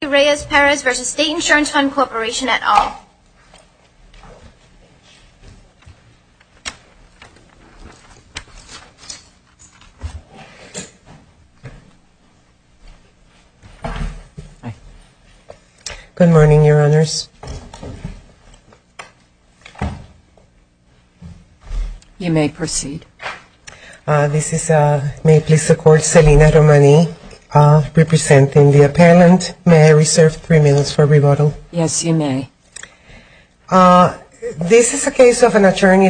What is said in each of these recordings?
Good morning, Your Honors. You may proceed. This is a case of an attorney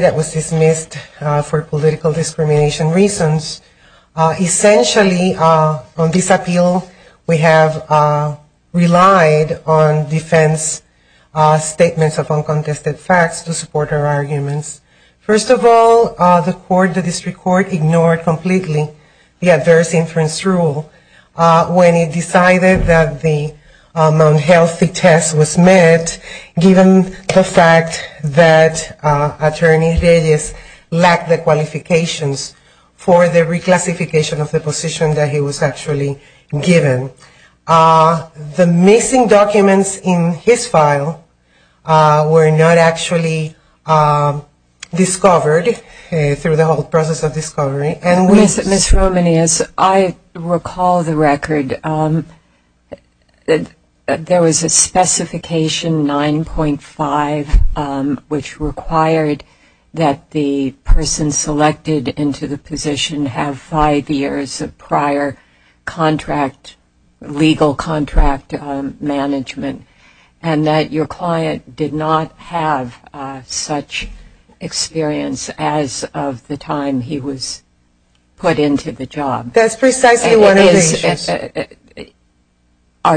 that was dismissed for political discrimination reasons. Essentially, on this appeal, we have relied on defense statements of uncontested facts to support our arguments. First of all, the District Court ignored completely the adverse inference rule when it decided that the unhealthy test was met, given the fact that Attorney Reyes lacked the qualifications for the reclassification of the position that he was actually given. The missing documents in his file were not actually discovered through the whole process of discovery. Ms. Romani, as I recall the record, there was a specification 9.5, which required that the person selected into the position have five years of prior contract, legal contract management, and that your client did not have such experience as of the time he was appointed. Ms. Romani, as I recall the record, there was a specification 9.5, which required that the person selected into the position have five years of prior contract, legal contract management, and that your client did not have such experience as of the time he was appointed.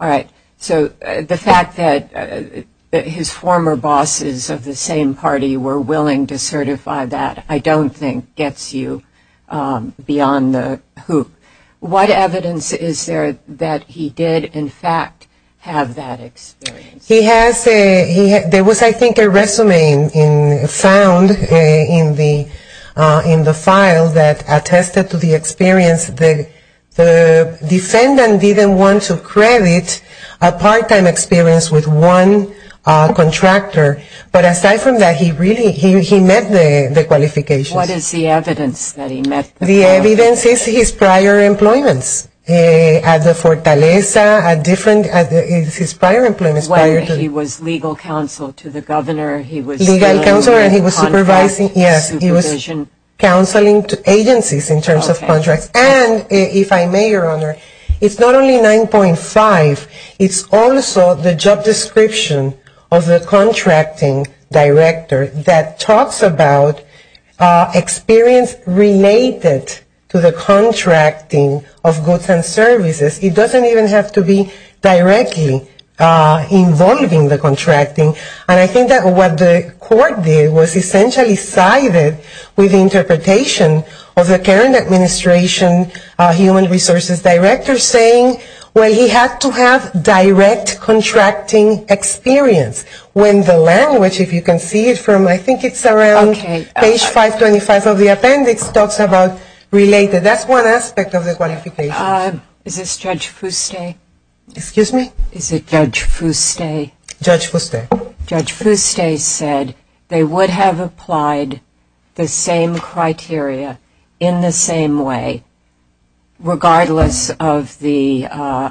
All right. So the fact that his former bosses of the same party were willing to certify that I don't think gets you beyond the hoop. What evidence is there that he did, in fact, have that experience? He did have it, a part-time experience with one contractor. But aside from that, he met the qualifications. What is the evidence that he met the qualifications? When he was legal counsel to the governor, he was dealing with contract supervision. And if I may, Your Honor, it's not only 9.5, it's also the job description of the contracting director that talks about experience related to the contracting of goods and services. It doesn't even have to be directly involving the contracting. And I think that what the court did was essentially sided with the interpretation of the current administration human resources director saying, well, he had to have direct contracting experience, when the language, if you can see it from I think it's around page 525 of the appendix, talks about related. And that's one aspect of the qualifications. Is this Judge Fuste? Excuse me? Is it Judge Fuste? Judge Fuste. Judge Fuste said they would have applied the same criteria in the same way, regardless of the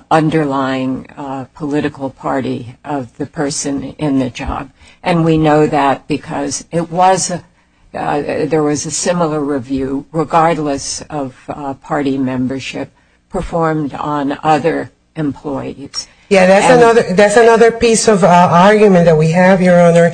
underlying political party of the person in the job. And we know that because there was a similar review, regardless of party membership, performed on other employees. Yeah, that's another piece of argument that we have, Your Honor.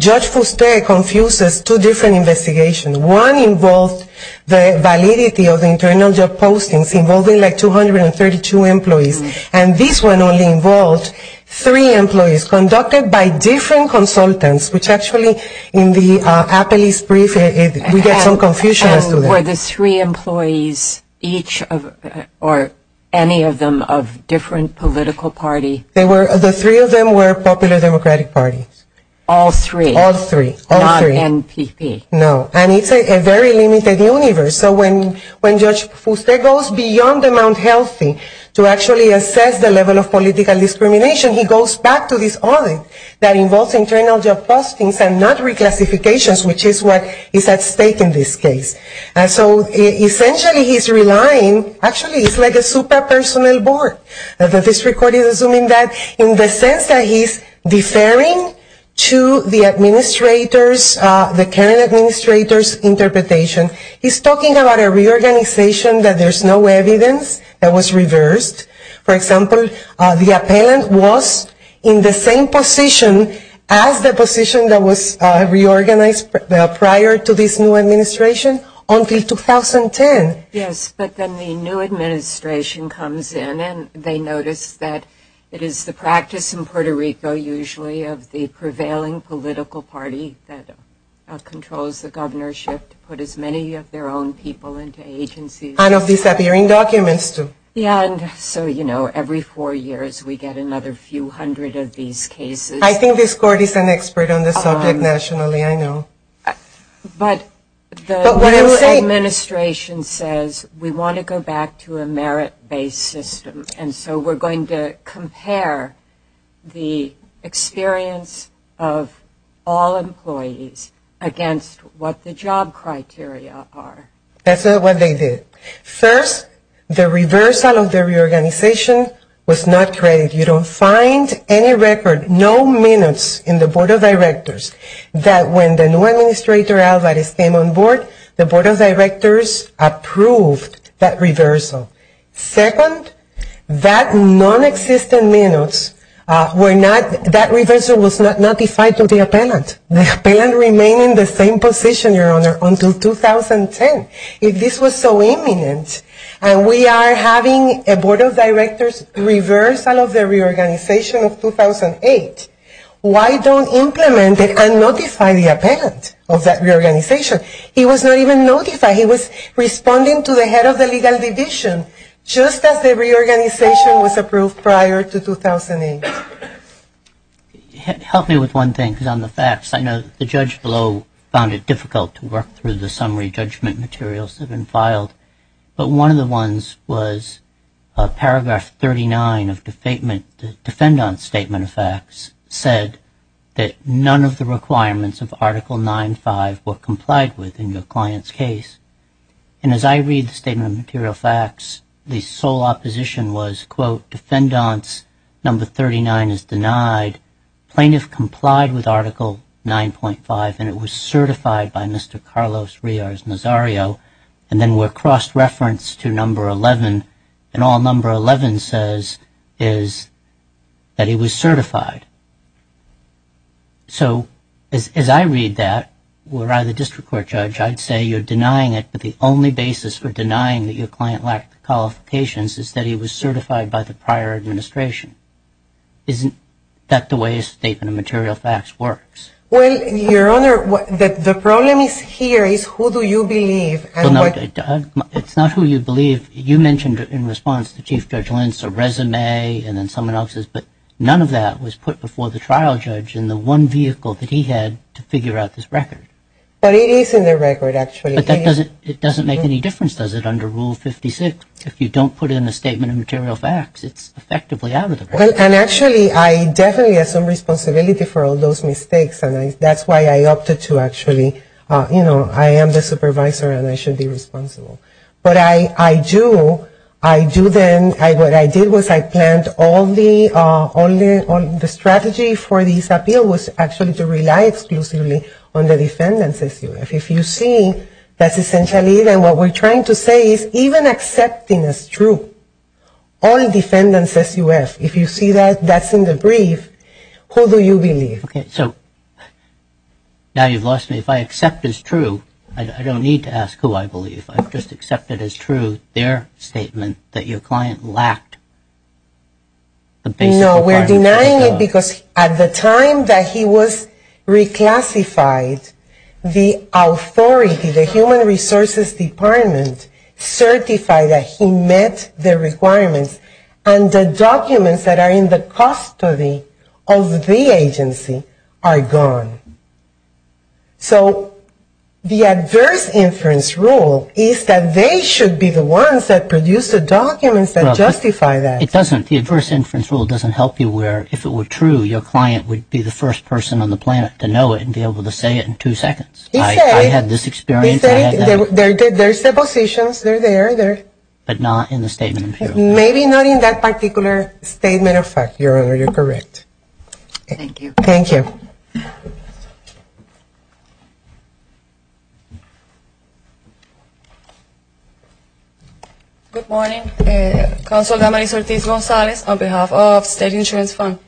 Judge Fuste confuses two different investigations. One involved the validity of the internal job postings involving like 232 employees. And this one only involved three employees conducted by different consultants, which actually in the appellee's brief, we get some confusion as to that. Were the three employees each or any of them of different political party? The three of them were popular democratic parties. All three. All three. Not NPP. No. And it's a very limited universe. So when Judge Fuste goes beyond the Mount Healthy to actually assess the level of political discrimination, he goes back to this audit that involves internal job postings and not reclassifications, which is what is at stake in this case. So essentially he's relying, actually it's like a super personal board. The district court is assuming that in the sense that he's deferring to the administrator's, the current administrator's interpretation. He's talking about a reorganization that there's no evidence that was reversed. For example, the appellant was in the same position as the position that was reorganized prior to this new administration until 2010. Yes, but then the new administration comes in and they notice that it is the practice in Puerto Rico usually of the prevailing political party that controls the governorship to put as many of their own people into agencies. And of disappearing documents too. Yeah, and so, you know, every four years we get another few hundred of these cases. I think this court is an expert on this subject nationally. I know. But the new administration says we want to go back to a merit-based system. And so we're going to compare the experience of all employees against what the job criteria are. That's what they did. First, the reversal of the reorganization was not created. You don't find any record, no minutes in the board of directors that when the new administrator Alvarez came on board, the board of directors approved that reversal. Second, that nonexistent minutes were not, that reversal was not notified to the appellant. The appellant remained in the same position, Your Honor, until 2010. If this was so imminent, and we are having a board of directors reverse all of the reorganization of 2008, why don't implement it and notify the appellant of that reorganization? He was not even notified. He was responding to the head of the legal division just as the reorganization was approved prior to 2008. Help me with one thing, because on the facts, I know the judge below found it difficult to work through the summary judgment materials that have been filed. But one of the ones was paragraph 39 of the defendant's statement of facts said that none of the requirements of Article 9.5 were complied with in your client's case. And as I read the statement of material facts, the sole opposition was, quote, defendant's number 39 is denied. Plaintiff complied with Article 9.5, and it was certified by Mr. Carlos Riaz-Nazario. And then we're cross-referenced to number 11, and all number 11 says is that he was certified. So as I read that, were I the district court judge, I'd say you're denying it, but the only basis for denying that your client lacked the qualifications is that he was certified by the prior administration. Isn't that the way a statement of material facts works? Well, Your Honor, the problem is here is who do you believe? It's not who you believe. You mentioned in response to Chief Judge Lentz a resume and then someone else's, but none of that was put before the trial judge in the one vehicle that he had to figure out this record. But it is in the record, actually. But that doesn't make any difference, does it, under Rule 56? If you don't put in a statement of material facts, it's effectively out of the record. And actually, I definitely assume responsibility for all those mistakes, and that's why I opted to actually, you know, I am the supervisor and I should be responsible. But I do, I do then, what I did was I planned all the strategy for this appeal was actually to rely exclusively on the defendants' SUF. If you see, that's essentially it, and what we're trying to say is even accepting as true all defendants' SUF. If you see that, that's in the brief, who do you believe? Okay, so now you've lost me. If I accept as true, I don't need to ask who I believe. I've just accepted as true their statement that your client lacked the basic requirements. No, we're denying it because at the time that he was reclassified, the authority, the Human Resources Department, certified that he met the requirements. And the documents that are in the custody of the agency are gone. So the adverse inference rule is that they should be the ones that produce the documents that justify that. It doesn't, the adverse inference rule doesn't help you where if it were true, your client would be the first person on the planet to know it and be able to say it in two seconds. He said. I had this experience, I had that. There's depositions, they're there. But not in the statement of appeal. Maybe not in that particular statement of fact, Your Honor, you're correct. Thank you. Thank you. Good morning. Counsel Damaris Ortiz-Gonzalez on behalf of State Insurance Fund.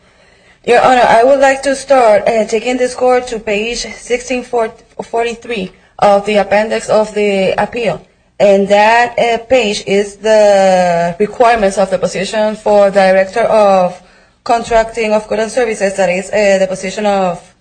Your Honor, I would like to start taking this court to page 1643 of the appendix of the appeal. And that page is the requirements of the position for director of contracting of goods and services, that is the position of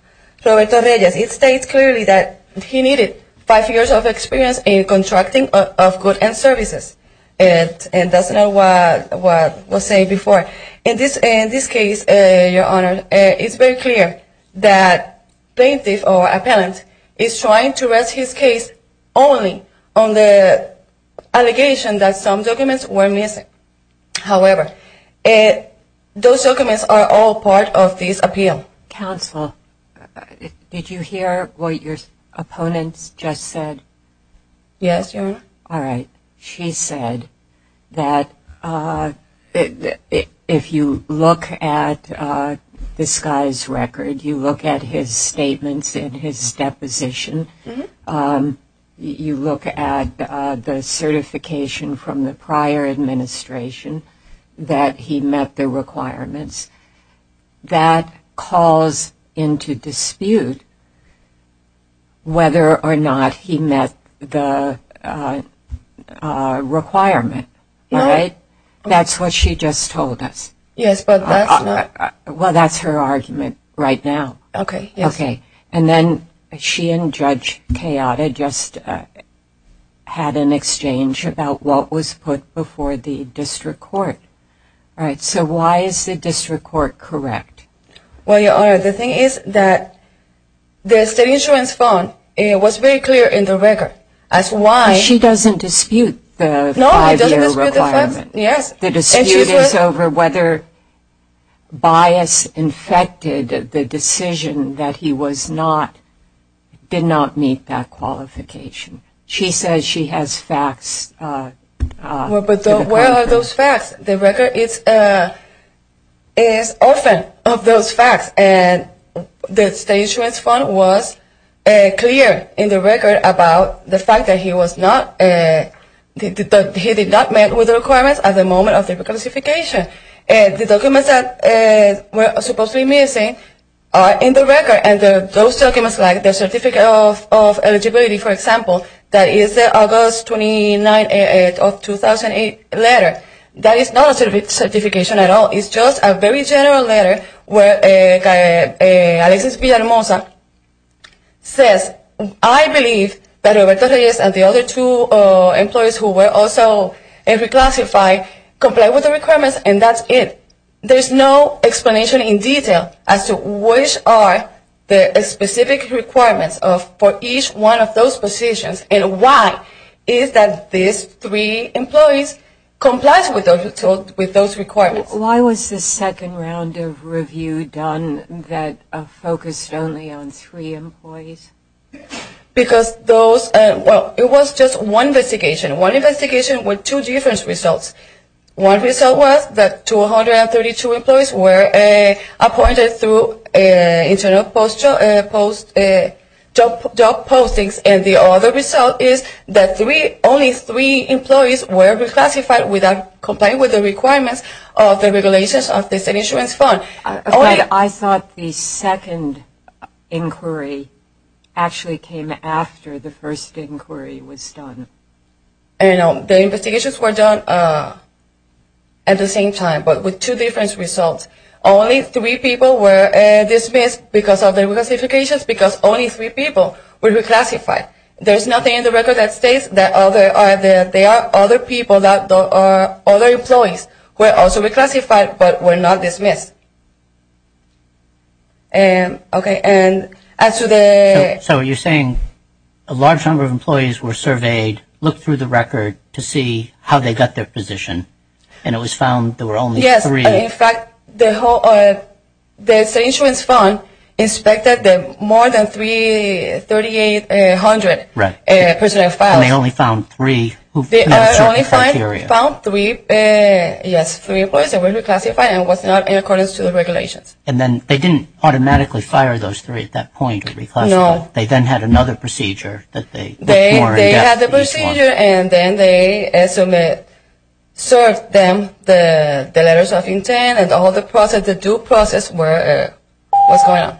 Roberto Reyes. It states clearly that he needed five years of experience in contracting of goods and services. And that's not what was said before. In this case, Your Honor, it's very clear that plaintiff or appellant is trying to rest his case only on the allegation that some documents were missing. However, those documents are all part of this appeal. Counsel, did you hear what your opponent just said? Yes, Your Honor. All right. She said that if you look at this guy's record, you look at his statements in his deposition, you look at the certification from the prior administration that he met the requirements, that calls into dispute whether or not he met the requirement. All right? That's what she just told us. Yes, but that's not... Well, that's her argument right now. Okay, yes. Okay. And then she and Judge Chioda just had an exchange about what was put before the district court. All right, so why is the district court correct? Well, Your Honor, the thing is that the state insurance fund was very clear in the record as to why... But she doesn't dispute the five-year requirement. No, I don't dispute the fact, yes. The dispute is over whether bias infected the decision that he was not, did not meet that qualification. She says she has facts. Well, but where are those facts? The record is orphaned of those facts. And the state insurance fund was clear in the record about the fact that he was not, he did not meet with the requirements at the moment of the classification. The documents that were supposedly missing are in the record, and those documents, like the Certificate of Eligibility, for example, that is the August 29th of 2008 letter. That is not a certification at all. It's just a very general letter where Alexis Villalmosa says, I believe that Roberto Reyes and the other two employees who were also reclassified comply with the requirements, and that's it. There's no explanation in detail as to which are the specific requirements for each one of those positions and why is that these three employees complied with those requirements. Why was the second round of review done that focused only on three employees? Because those, well, it was just one investigation. One investigation with two different results. One result was that 232 employees were appointed through internal job postings, and the other result is that only three employees were reclassified without complying with the requirements of the regulations of the state insurance fund. I thought the second inquiry actually came after the first inquiry was done. The investigations were done at the same time, but with two different results. Only three people were dismissed because of the reclassifications because only three people were reclassified. There's nothing in the record that states that there are other people, that there are other employees who were also reclassified but were not dismissed. So you're saying a large number of employees were surveyed, looked through the record to see how they got their position, and it was found there were only three. Yes. In fact, the state insurance fund inspected more than 3,800 personnel files. And they only found three who met certain criteria. They only found three, yes, three employees that were reclassified and was not in accordance to the regulations. And then they didn't automatically fire those three at that point of reclassification. No. They then had another procedure that they were more in-depth in response to. They had the procedure, and then they submitted, served them the letters of intent, and the whole process, the due process was going on,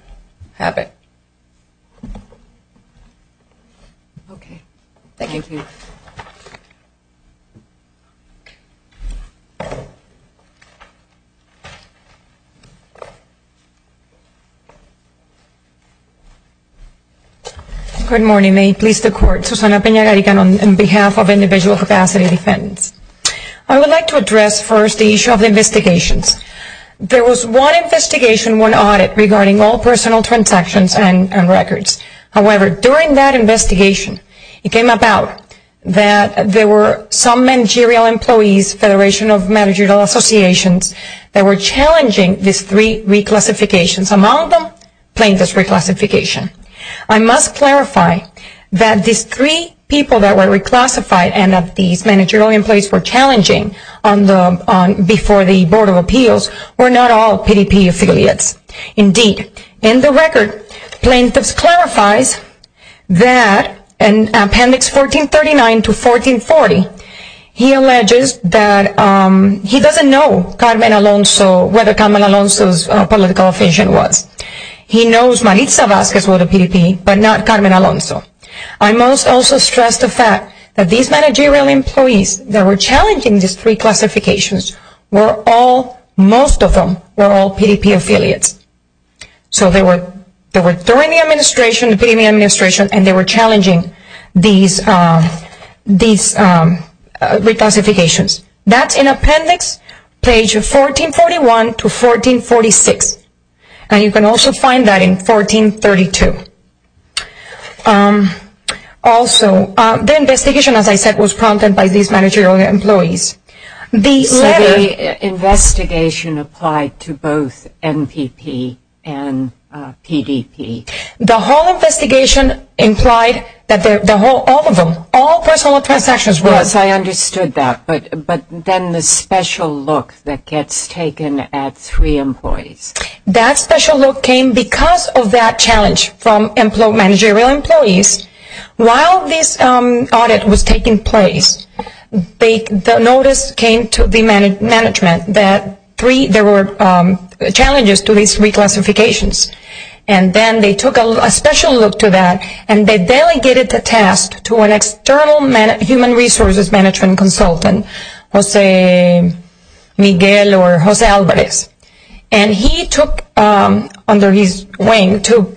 happened. Okay. Thank you. Good morning. May it please the Court. Susana Pena-Garican on behalf of Individual Capacity Defendants. I would like to address first the issue of investigations. There was one investigation, one audit regarding all personal transactions and records. However, during that investigation, it came about that there were some managerial employees, Federation of Managerial Associations, that were challenging these three reclassifications. Among them, plaintiff's reclassification. I must clarify that these three people that were reclassified and that these managerial employees were challenging before the Board of Appeals were not all PDP affiliates. Indeed, in the record, plaintiff's clarifies that in Appendix 1439 to 1440, he alleges that he doesn't know Carmen Alonso, whether Carmen Alonso's political affiliation was. He knows Maritza Vazquez was a PDP, but not Carmen Alonso. I must also stress the fact that these managerial employees that were challenging these three classifications were all, most of them, were all PDP affiliates. So they were during the administration, during the administration, and they were challenging these reclassifications. That's in Appendix 1441 to 1446. And you can also find that in 1432. Also, the investigation, as I said, was prompted by these managerial employees. So the investigation applied to both MPP and PDP. The whole investigation implied that the whole, all of them, all personal transactions were. Yes, I understood that. But then the special look that gets taken at three employees. That special look came because of that challenge from managerial employees. While this audit was taking place, the notice came to the management that there were challenges to these reclassifications. And then they took a special look to that, and they delegated the task to an external human resources management consultant, Jose Miguel or Jose Alvarez. And he took under his wing to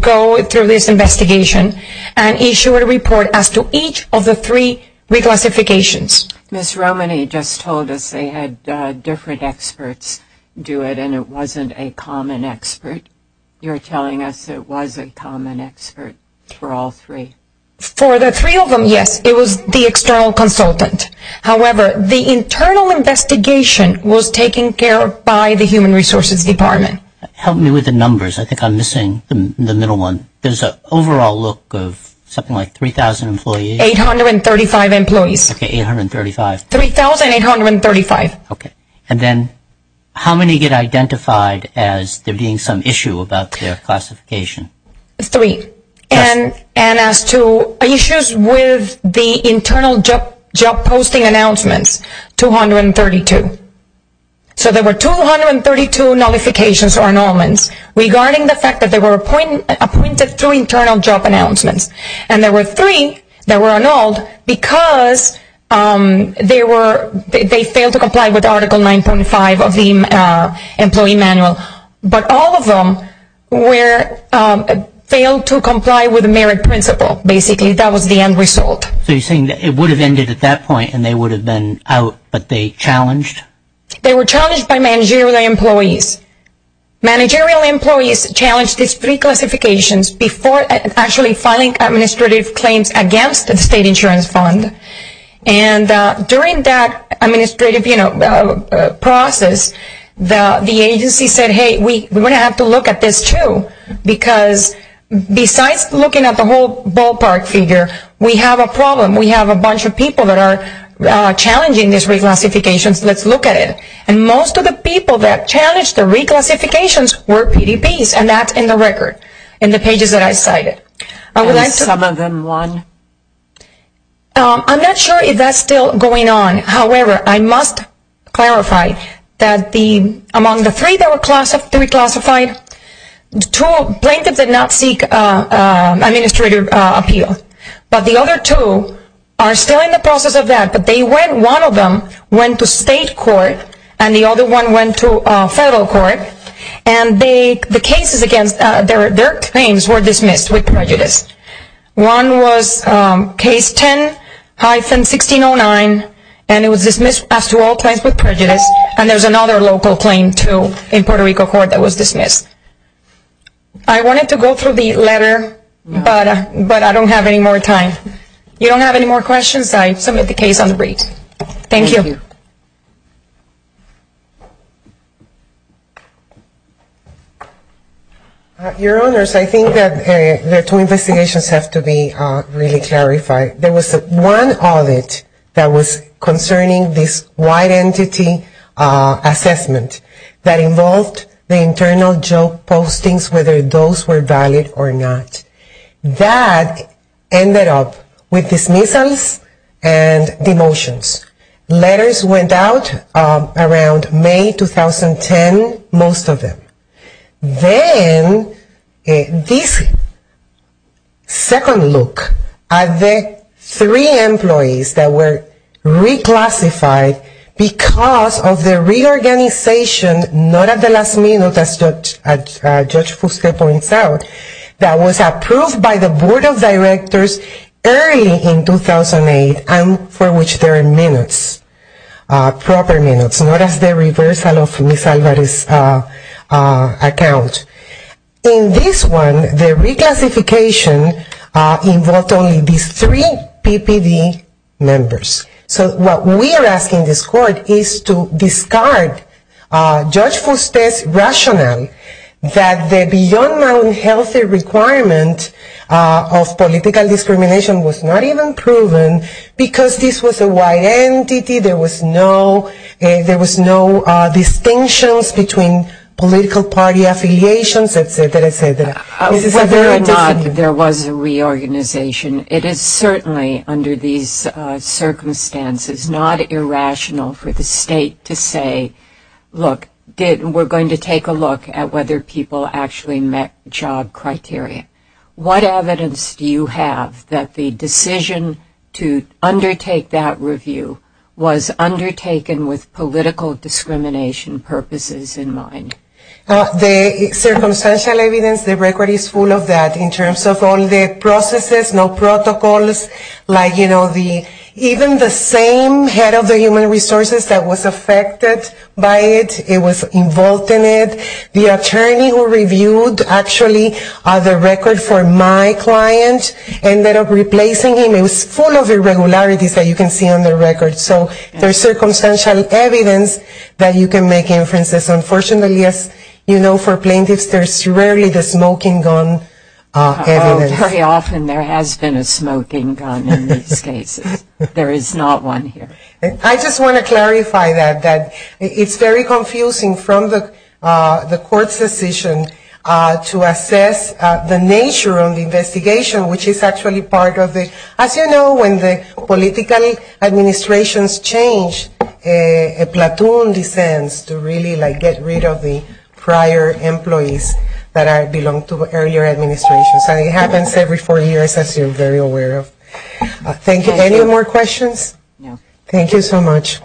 go through this investigation and issue a report as to each of the three reclassifications. Ms. Romany just told us they had different experts do it, and it wasn't a common expert. You're telling us it was a common expert for all three? For the three of them, yes. It was the external consultant. However, the internal investigation was taken care of by the human resources department. Help me with the numbers. I think I'm missing the middle one. There's an overall look of something like 3,000 employees. 835 employees. Okay, 835. 3,835. Okay. And then how many get identified as there being some issue about their classification? Three. And as to issues with the internal job posting announcements, 232. So there were 232 nullifications or annulments regarding the fact that they were appointed through internal job announcements. And there were three that were annulled because they failed to comply with Article 9.5 of the employee manual. But all of them failed to comply with the merit principle, basically. That was the end result. So you're saying it would have ended at that point, and they would have been out, but they challenged? They were challenged by managerial employees. Managerial employees challenged these three classifications before actually filing administrative claims against the state insurance fund. And during that administrative process, the agency said, hey, we're going to have to look at this, too, because besides looking at the whole ballpark figure, we have a problem. We have a bunch of people that are challenging these reclassifications. Let's look at it. And most of the people that challenged the reclassifications were PDPs, and that's in the record in the pages that I cited. And some of them won. I'm not sure if that's still going on. However, I must clarify that among the three that were reclassified, two plaintiffs did not seek administrative appeal. But the other two are still in the process of that, but one of them went to state court and the other one went to federal court, and their claims were dismissed with prejudice. One was case 10-1609, and it was dismissed as to all claims with prejudice, and there's another local claim, too, in Puerto Rico court that was dismissed. I wanted to go through the letter, but I don't have any more time. If you don't have any more questions, I submit the case on the brief. Thank you. Your Honors, I think that the two investigations have to be really clarified. There was one audit that was concerning this white entity assessment that involved the internal joke postings, whether those were valid or not. That ended up with dismissals and demotions. Letters went out around May 2010, most of them. Then this second look at the three employees that were reclassified because of the reorganization not at the last minute, as Judge Fusque points out, that was approved by the Board of Directors early in 2008 and for which there are minutes, proper minutes, not as the reversal of Ms. Alvarez's account. In this one, the reclassification involved only these three PPD members. So what we are asking this court is to discard Judge Fusque's rationale that the beyond unhealthy requirement of political discrimination was not even proven because this was a white entity, there was no distinctions between political party affiliations, et cetera, et cetera. Whether or not there was a reorganization, it is certainly under these circumstances not irrational for the state to say, look, we are going to take a look at whether people actually met job criteria. What evidence do you have that the decision to undertake that review was undertaken with political discrimination purposes in mind? The circumstantial evidence, the record is full of that in terms of all the processes, no protocols, even the same head of the human resources that was affected by it, it was involved in it. The attorney who reviewed actually the record for my client ended up replacing him. It was full of irregularities that you can see on the record. So there is circumstantial evidence that you can make inferences. Unfortunately, as you know, for plaintiffs, there is rarely the smoking gun evidence. And there has been a smoking gun in these cases. There is not one here. I just want to clarify that it's very confusing from the court's decision to assess the nature of the investigation, which is actually part of the, as you know, when the political administrations change, a platoon descends to really get rid of the prior employees that belong to earlier administrations. It happens every four years, as you're very aware of. Thank you. Any more questions? No. Thank you so much.